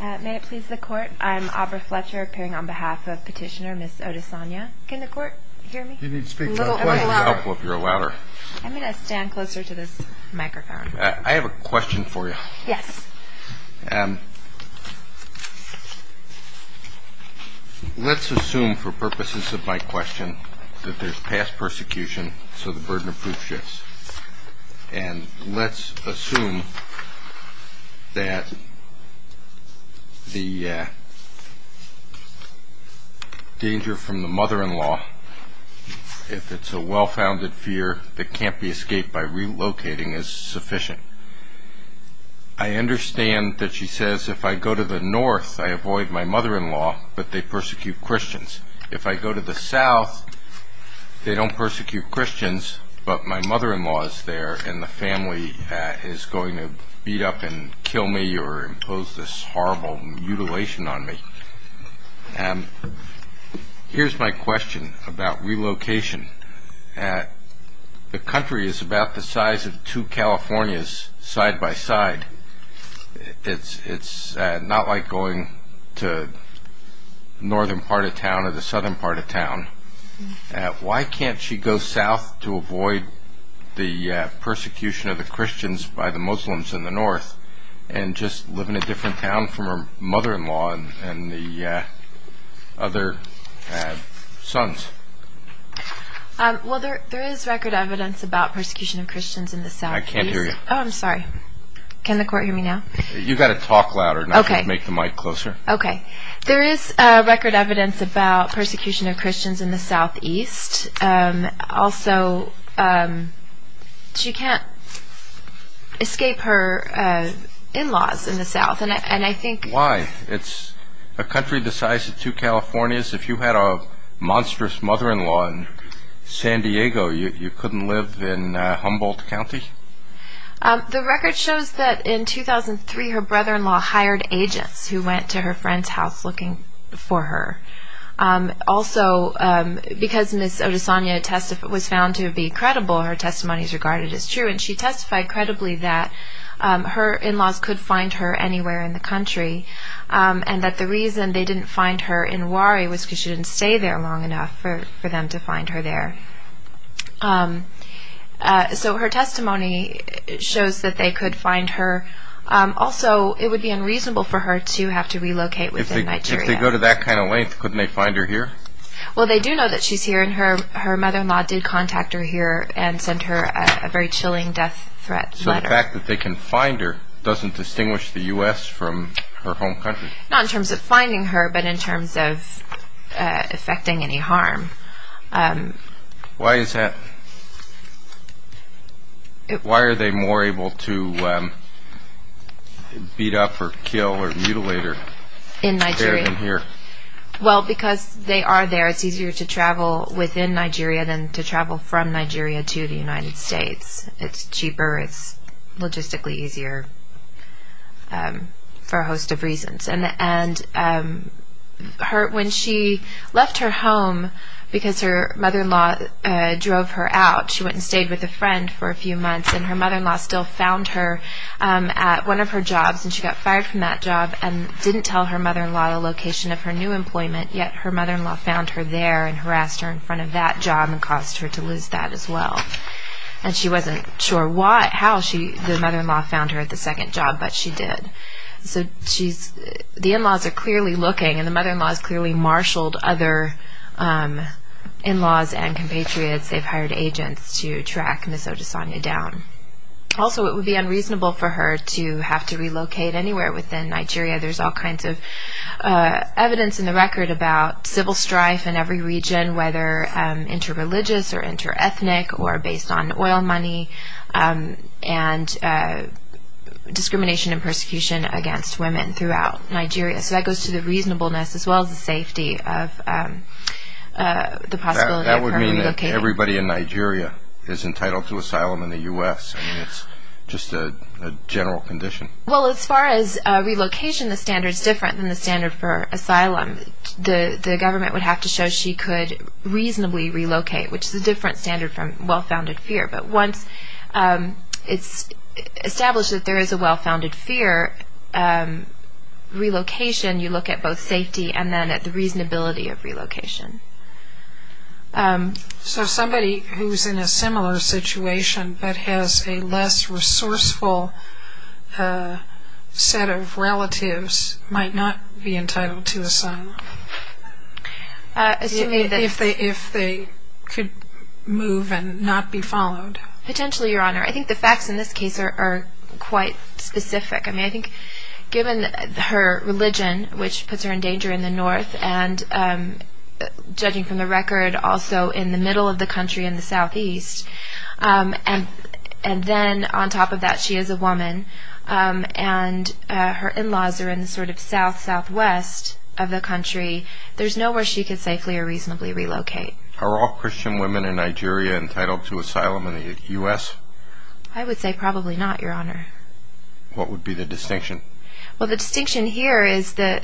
May it please the court, I'm Aubrey Fletcher appearing on behalf of petitioner Ms. Odesanya. Can the court hear me? You need to speak a little louder. I'm going to stand closer to this microphone. I have a question for you. Yes. Let's assume for purposes of my question that there's past persecution so the burden of proof shifts. And let's assume that the danger from the mother-in-law, if it's a well-founded fear that can't be escaped by relocating, is sufficient. I understand that she says if I go to the north I avoid my mother-in-law, but they persecute Christians. If I go to the south, they don't persecute Christians, but my mother-in-law is there and the family is going to beat up and kill me or impose this horrible mutilation on me. Here's my question about relocation. The country is about the size of two Californias side by side. It's not like going to the northern part of town or the southern part of town. Why can't she go south to avoid the persecution of the Christians by the Muslims in the north and just live in a different town from her mother-in-law and the other sons? Well, there is record evidence about persecution of Christians in the southeast. I can't hear you. Oh, I'm sorry. Can the court hear me now? You've got to talk louder, not just make the mic closer. Okay. There is record evidence about persecution of Christians in the southeast. Also, she can't escape her in-laws in the south. Why? It's a country the size of two Californias. If you had a monstrous mother-in-law in San Diego, you couldn't live in Humboldt County? The record shows that in 2003 her brother-in-law hired agents who went to her friend's house looking for her. Also, because Ms. Odesanya was found to be credible, her testimony is regarded as true, and she testified credibly that her in-laws could find her anywhere in the country and that the reason they didn't find her in Wari was because she didn't stay there long enough for them to find her there. So her testimony shows that they could find her. Also, it would be unreasonable for her to have to relocate within Nigeria. If they go to that kind of length, couldn't they find her here? Well, they do know that she's here, and her mother-in-law did contact her here and sent her a very chilling death threat letter. So the fact that they can find her doesn't distinguish the U.S. from her home country? Not in terms of finding her, but in terms of affecting any harm. Why is that? Why are they more able to beat up or kill or mutilate her here than here? Well, because they are there. It's easier to travel within Nigeria than to travel from Nigeria to the United States. It's cheaper, it's logistically easier for a host of reasons. And when she left her home because her mother-in-law drove her out, she went and stayed with a friend for a few months, and her mother-in-law still found her at one of her jobs, and she got fired from that job and didn't tell her mother-in-law the location of her new employment, yet her mother-in-law found her there and harassed her in front of that job and caused her to lose that as well. And she wasn't sure how the mother-in-law found her at the second job, but she did. So the in-laws are clearly looking, and the mother-in-laws clearly marshaled other in-laws and compatriots. They've hired agents to track Ms. Odesanya down. Also, it would be unreasonable for her to have to relocate anywhere within Nigeria. There's all kinds of evidence in the record about civil strife in every region, whether inter-religious or inter-ethnic or based on oil money, and discrimination and persecution against women throughout Nigeria. So that goes to the reasonableness as well as the safety of the possibility of her relocating. That would mean that everybody in Nigeria is entitled to asylum in the U.S. I mean, it's just a general condition. Well, as far as relocation, the standard's different than the standard for asylum. The government would have to show she could reasonably relocate, which is a different standard from well-founded fear. But once it's established that there is a well-founded fear, relocation, you look at both safety and then at the reasonability of relocation. So somebody who's in a similar situation but has a less resourceful set of relatives might not be entitled to asylum if they could move and not be followed. Potentially, Your Honor. I think the facts in this case are quite specific. I mean, I think given her religion, which puts her in danger in the north, and judging from the record, also in the middle of the country in the southeast, and then on top of that she is a woman, and her in-laws are in the sort of south-southwest of the country, there's nowhere she could safely or reasonably relocate. Are all Christian women in Nigeria entitled to asylum in the U.S.? I would say probably not, Your Honor. What would be the distinction? Well, the distinction here is the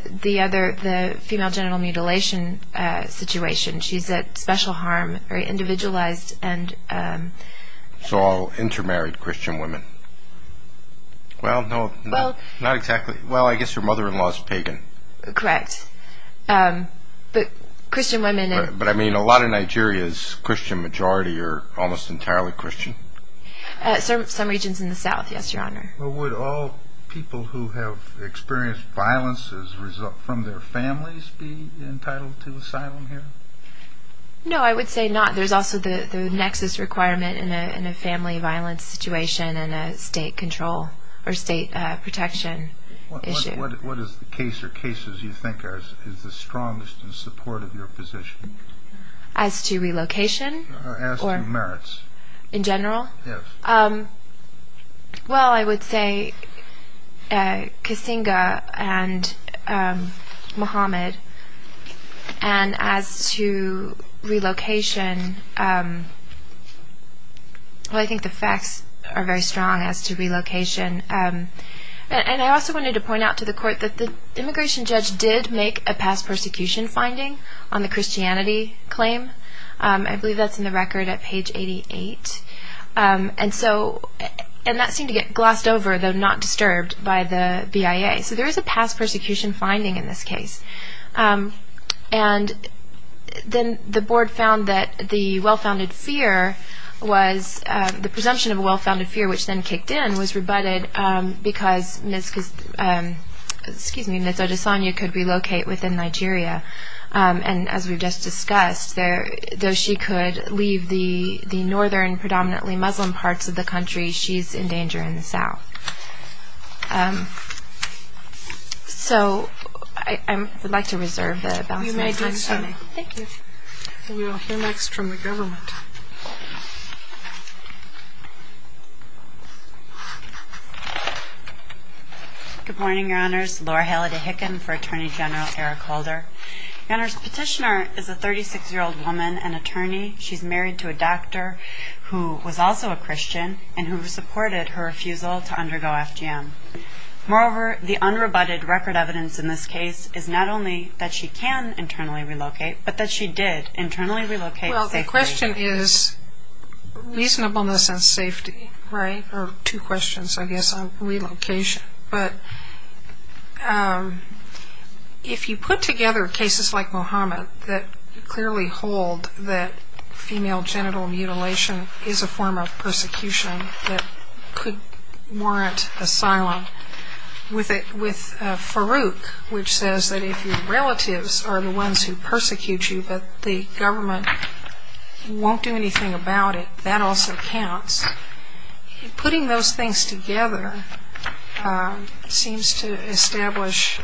female genital mutilation situation. She's at special harm, very individualized, and... So all intermarried Christian women. Well, no, not exactly. Well, I guess her mother-in-law is pagan. Correct. But Christian women... But, I mean, a lot of Nigeria's Christian majority are almost entirely Christian. Some regions in the south, yes, Your Honor. Well, would all people who have experienced violence as a result from their families be entitled to asylum here? No, I would say not. There's also the nexus requirement in a family violence situation and a state control or state protection issue. What is the case or cases you think is the strongest in support of your position? As to relocation? As to merits. In general? Yes. Well, I would say Kasinga and Mohamed. And as to relocation, well, I think the facts are very strong as to relocation. And I also wanted to point out to the Court that the immigration judge did make a past persecution finding on the Christianity claim. I believe that's in the record at page 88. And that seemed to get glossed over, though not disturbed, by the BIA. So there is a past persecution finding in this case. And then the Board found that the presumption of a well-founded fear, which then kicked in, was rebutted because Ms. Odesanya could relocate within Nigeria. And as we've just discussed, though she could leave the northern, predominantly Muslim parts of the country, she's in danger in the south. So I would like to reserve the balance of my time. You may do so. Thank you. We will hear next from the government. Good morning, Your Honors. Laura Haley DeHicken for Attorney General Eric Holder. Your Honors, the petitioner is a 36-year-old woman and attorney. She's married to a doctor who was also a Christian and who supported her refusal to undergo FGM. Moreover, the unrebutted record evidence in this case is not only that she can internally relocate, but that she did internally relocate safely. Well, the question is reasonableness and safety, right? Or two questions, I guess, on relocation. But if you put together cases like Mohamed that clearly hold that female genital mutilation is a form of persecution that could warrant asylum, with Farouk, which says that if your relatives are the ones who persecute you, but the government won't do anything about it, that also counts. Putting those things together seems to establish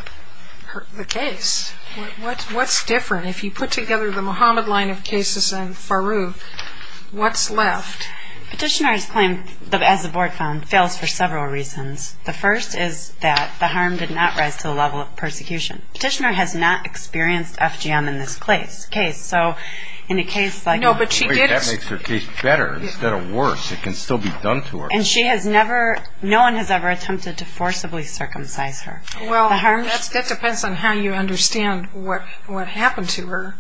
the case. What's different? If you put together the Mohamed line of cases and Farouk, what's left? Petitioners claim, as the board found, fails for several reasons. The first is that the harm did not rise to the level of persecution. Petitioner has not experienced FGM in this case. No, but she did. That makes her case better instead of worse. It can still be done to her. And no one has ever attempted to forcibly circumcise her. Well, that depends on how you understand what happened to her.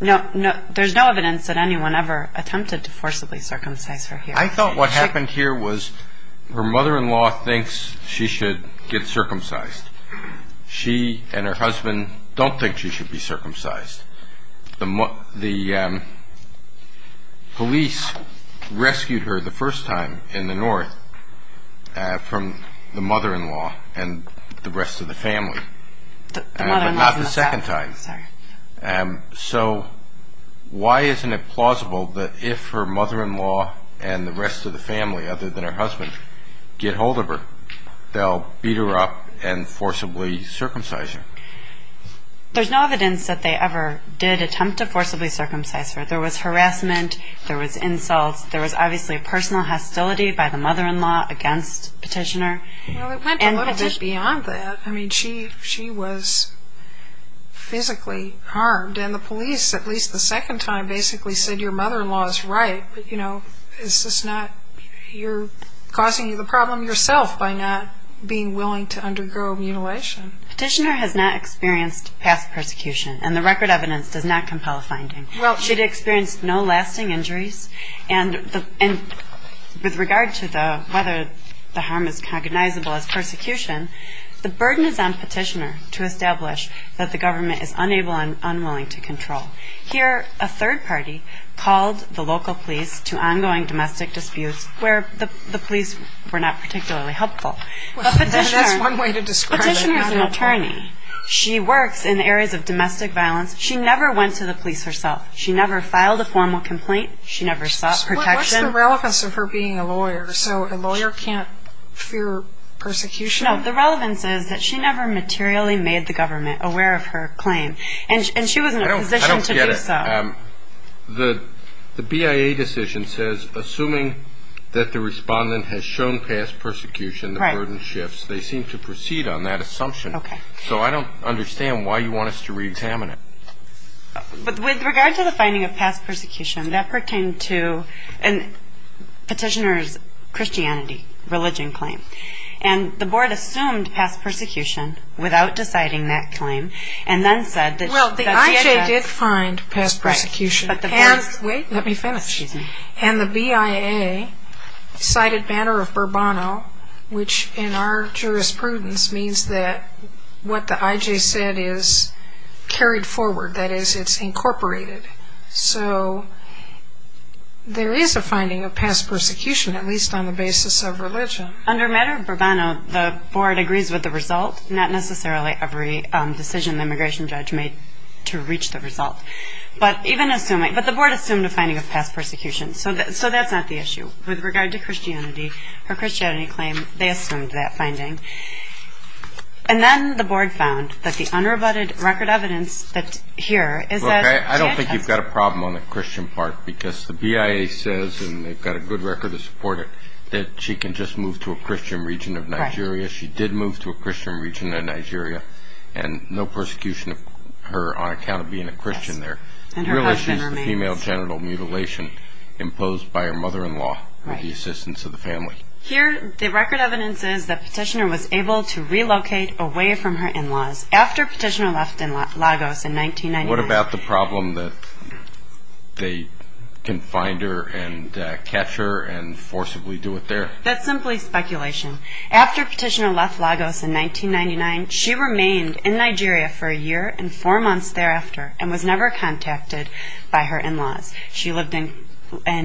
There's no evidence that anyone ever attempted to forcibly circumcise her here. I thought what happened here was her mother-in-law thinks she should get circumcised. She and her husband don't think she should be circumcised. The police rescued her the first time in the north from the mother-in-law and the rest of the family. The mother-in-law was in the south. Not the second time. Sorry. So why isn't it plausible that if her mother-in-law and the rest of the family, other than her husband, get hold of her, they'll beat her up and forcibly circumcise her? There's no evidence that they ever did attempt to forcibly circumcise her. There was harassment. There was insult. There was obviously personal hostility by the mother-in-law against Petitioner. Well, it went a little bit beyond that. I mean, she was physically harmed. And the police, at least the second time, basically said your mother-in-law is right. You're causing the problem yourself by not being willing to undergo mutilation. Petitioner has not experienced past persecution, and the record evidence does not compel a finding. She'd experienced no lasting injuries. And with regard to whether the harm is cognizable as persecution, the burden is on Petitioner to establish that the government is unable and unwilling to control. Here, a third party called the local police to ongoing domestic disputes where the police were not particularly helpful. But Petitioner is an attorney. She works in areas of domestic violence. She never went to the police herself. She never filed a formal complaint. She never sought protection. What's the relevance of her being a lawyer? So a lawyer can't fear persecution? No, the relevance is that she never materially made the government aware of her claim. And she was in a position to do so. I don't get it. The BIA decision says assuming that the respondent has shown past persecution, the burden shifts. They seem to proceed on that assumption. Okay. So I don't understand why you want us to reexamine it. With regard to the finding of past persecution, that pertained to Petitioner's Christianity religion claim. And the board assumed past persecution without deciding that claim Well, the IJ did find past persecution. Wait, let me finish. And the BIA cited Banner of Burbano, which in our jurisprudence means that what the IJ said is carried forward. That is, it's incorporated. So there is a finding of past persecution, at least on the basis of religion. Under Banner of Burbano, the board agrees with the result. Not necessarily every decision the immigration judge made to reach the result. But the board assumed a finding of past persecution. So that's not the issue. With regard to Christianity, her Christianity claim, they assumed that finding. And then the board found that the unrebutted record evidence here is that she has Look, I don't think you've got a problem on the Christian part, because the BIA says, and they've got a good record to support it, that she can just move to a Christian region of Nigeria. She did move to a Christian region of Nigeria, and no persecution of her on account of being a Christian there. The real issue is the female genital mutilation imposed by her mother-in-law with the assistance of the family. Here, the record evidence is that Petitioner was able to relocate away from her in-laws after Petitioner left Lagos in 1999. What about the problem that they can find her and catch her and forcibly do it there? That's simply speculation. After Petitioner left Lagos in 1999, she remained in Nigeria for a year and four months thereafter and was never contacted by her in-laws. She lived in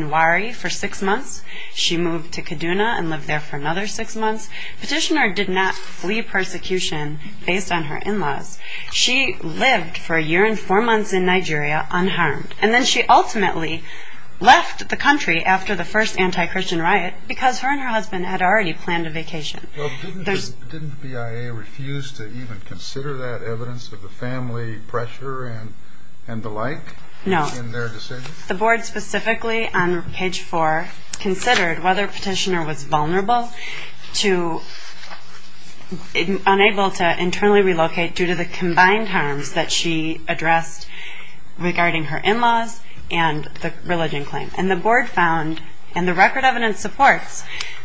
Wari for six months. She moved to Kaduna and lived there for another six months. Petitioner did not flee persecution based on her in-laws. She lived for a year and four months in Nigeria unharmed. And then she ultimately left the country after the first anti-Christian riot because her and her husband had already planned a vacation. Didn't BIA refuse to even consider that evidence of the family pressure and the like in their decision? No. The board specifically on page 4 considered whether Petitioner was vulnerable to unable to internally relocate due to the combined harms that she addressed regarding her in-laws and the religion claim. And the board found, and the record evidence supports,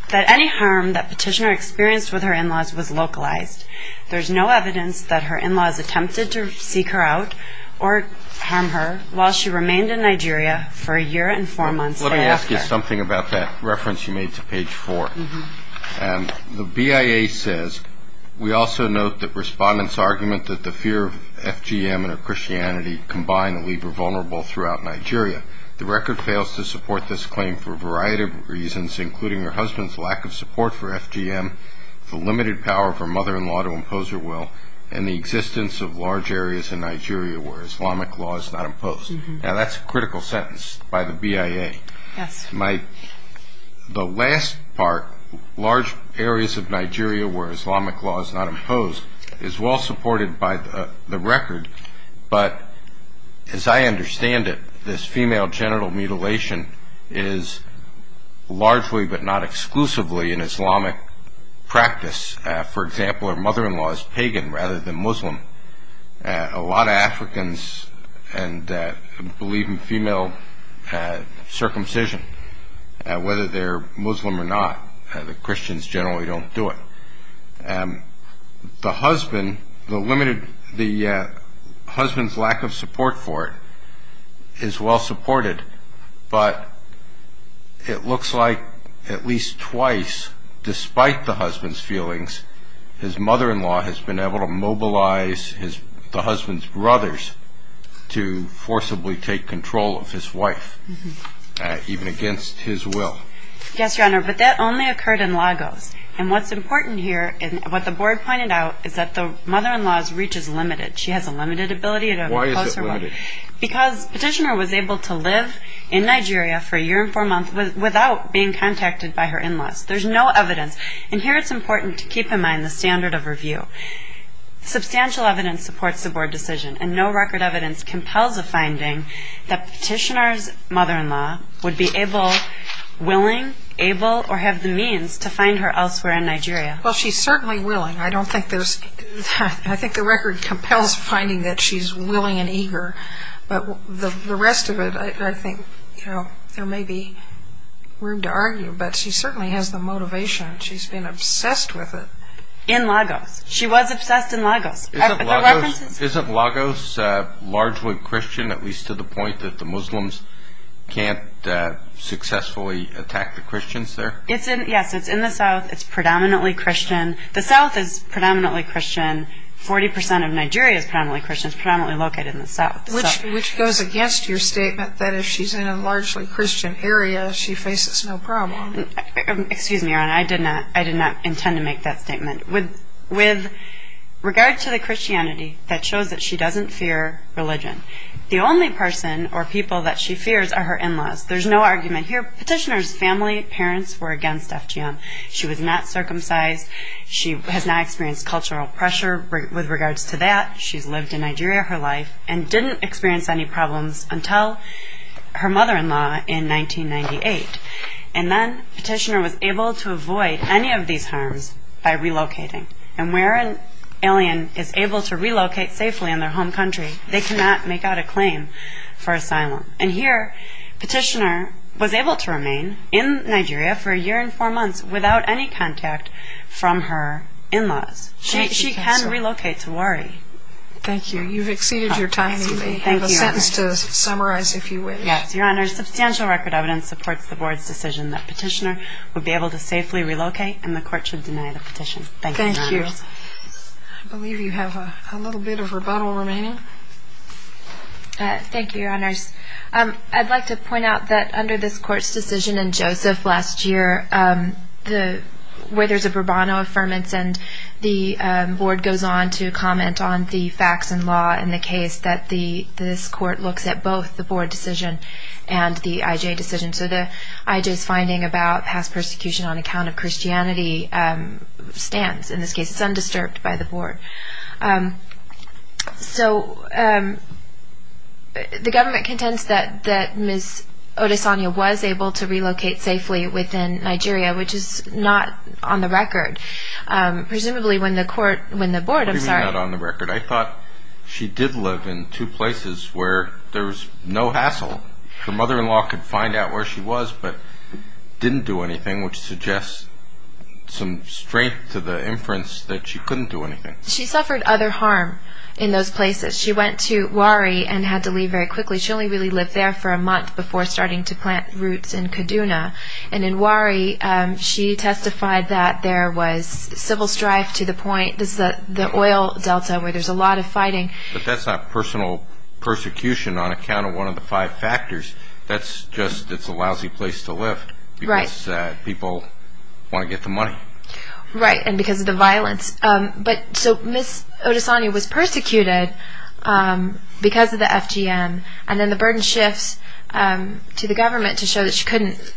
that any harm that Petitioner experienced with her in-laws was localized. There's no evidence that her in-laws attempted to seek her out or harm her while she remained in Nigeria for a year and four months thereafter. Let me ask you something about that reference you made to page 4. The BIA says, we also note that respondents' argument that the fear of FGM and of Christianity combined that we were vulnerable throughout Nigeria. The record fails to support this claim for a variety of reasons, including her husband's lack of support for FGM, the limited power of her mother-in-law to impose her will, and the existence of large areas in Nigeria where Islamic law is not imposed. Now, that's a critical sentence by the BIA. Yes. The last part, large areas of Nigeria where Islamic law is not imposed, is well supported by the record. But, as I understand it, this female genital mutilation is largely, but not exclusively, an Islamic practice. For example, her mother-in-law is pagan rather than Muslim. A lot of Africans believe in female circumcision, whether they're Muslim or not. The Christians generally don't do it. The husband, the husband's lack of support for it is well supported, but it looks like at least twice, despite the husband's feelings, his mother-in-law has been able to mobilize the husband's brothers to forcibly take control of his wife, even against his will. Yes, Your Honor, but that only occurred in Lagos. And what's important here, and what the board pointed out, is that the mother-in-law's reach is limited. She has a limited ability to impose her will. Why is it limited? Because Petitioner was able to live in Nigeria for a year and four months without being contacted by her in-laws. There's no evidence. And here it's important to keep in mind the standard of review. Substantial evidence supports the board decision, and no record evidence compels a finding that Petitioner's mother-in-law would be able, willing, able, or have the means to find her elsewhere in Nigeria. Well, she's certainly willing. I think the record compels finding that she's willing and eager, but the rest of it I think there may be room to argue. But she certainly has the motivation. She's been obsessed with it. In Lagos. She was obsessed in Lagos. Isn't Lagos largely Christian, at least to the point that the Muslims can't successfully attack the Christians there? Yes, it's in the south. It's predominantly Christian. The south is predominantly Christian. Forty percent of Nigeria is predominantly Christian. It's predominantly located in the south. Which goes against your statement that if she's in a largely Christian area, she faces no problem. Excuse me, Your Honor. I did not intend to make that statement. With regard to the Christianity, that shows that she doesn't fear religion. The only person or people that she fears are her in-laws. There's no argument here. Petitioner's family, parents were against FGM. She was not circumcised. She has not experienced cultural pressure with regards to that. She's lived in Nigeria her life and didn't experience any problems until her mother-in-law in 1998. And then Petitioner was able to avoid any of these harms by relocating. And where an alien is able to relocate safely in their home country, they cannot make out a claim for asylum. And here, Petitioner was able to remain in Nigeria for a year and four months without any contact from her in-laws. She can relocate to Wari. Thank you. You've exceeded your time. I have a sentence to summarize, if you wish. Yes, Your Honor. Your substantial record evidence supports the Board's decision that Petitioner would be able to safely relocate and the Court should deny the petition. Thank you, Your Honors. Thank you. I believe you have a little bit of rebuttal remaining. Thank you, Your Honors. I'd like to point out that under this Court's decision in Joseph last year, where there's a burbono affirmance and the Board goes on to comment on the facts and law in the case, that this Court looks at both the Board decision and the IJ decision. So the IJ's finding about past persecution on account of Christianity stands. In this case, it's undisturbed by the Board. So the government contends that Ms. Odesanya was able to relocate safely within Nigeria, which is not on the record. Presumably when the Court, when the Board, I'm sorry. What do you mean not on the record? I thought she did live in two places where there was no hassle. Her mother-in-law could find out where she was but didn't do anything, which suggests some strength to the inference that she couldn't do anything. She suffered other harm in those places. She went to Wari and had to leave very quickly. She only really lived there for a month before starting to plant roots in Kaduna. And in Wari, she testified that there was civil strife to the point, the oil delta, where there's a lot of fighting. But that's not personal persecution on account of one of the five factors. That's just it's a lousy place to live because people want to get the money. Right, and because of the violence. But so Ms. Odesanya was persecuted because of the FGM, and then the burden shifts to the government to show that she couldn't.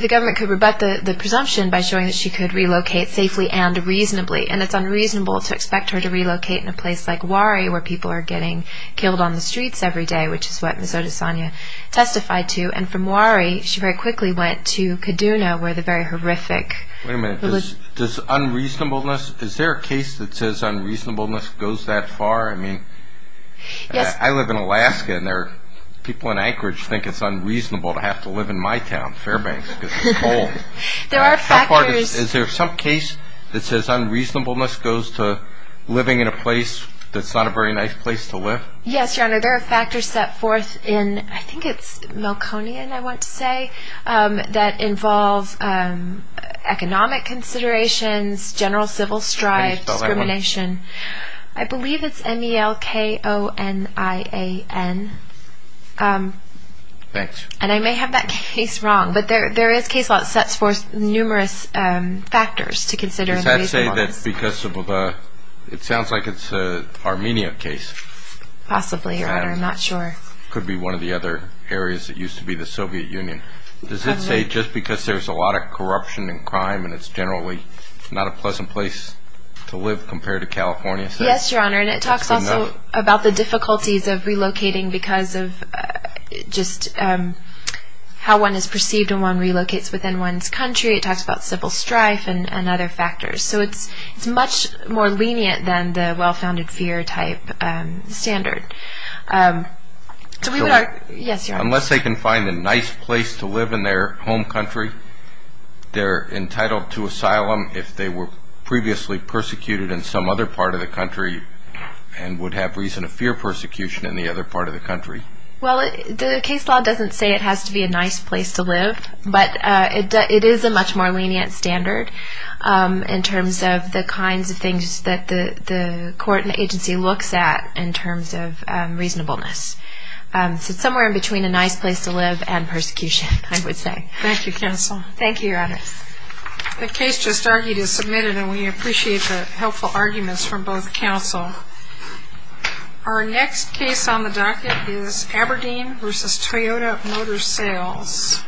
The government could rebut the presumption by showing that she could relocate safely and reasonably. And it's unreasonable to expect her to relocate in a place like Wari where people are getting killed on the streets every day, which is what Ms. Odesanya testified to. And from Wari, she very quickly went to Kaduna where the very horrific. Wait a minute. Does unreasonableness, is there a case that says unreasonableness goes that far? I mean, I live in Alaska and people in Anchorage think it's unreasonable to have to live in my town, Fairbanks, because it's cold. There are factors. Is there some case that says unreasonableness goes to living in a place that's not a very nice place to live? Yes, Your Honor. There are factors set forth in, I think it's Melkonian, I want to say, that involve economic considerations, general civil strife, discrimination. How do you spell that one? I believe it's M-E-L-K-O-N-I-A-N. Thanks. And I may have that case wrong, but there is case law that sets forth numerous factors to consider. Does that say that because of the, it sounds like it's an Armenia case. Possibly, Your Honor. I'm not sure. Could be one of the other areas that used to be the Soviet Union. Does it say just because there's a lot of corruption and crime and it's generally not a pleasant place to live compared to California? Yes, Your Honor, and it talks also about the difficulties of relocating because of just how one is perceived when one relocates within one's country. It talks about civil strife and other factors. So it's much more lenient than the well-founded fear type standard. Unless they can find a nice place to live in their home country, they're entitled to asylum if they were previously persecuted in some other part of the country and would have reason to fear persecution in the other part of the country. Well, the case law doesn't say it has to be a nice place to live, but it is a much more lenient standard in terms of the kinds of things that the court and agency looks at in terms of reasonableness. So it's somewhere in between a nice place to live and persecution, I would say. Thank you, counsel. Thank you, Your Honor. The case just argued is submitted, and we appreciate the helpful arguments from both counsel. Our next case on the docket is Aberdeen v. Toyota Motor Sales.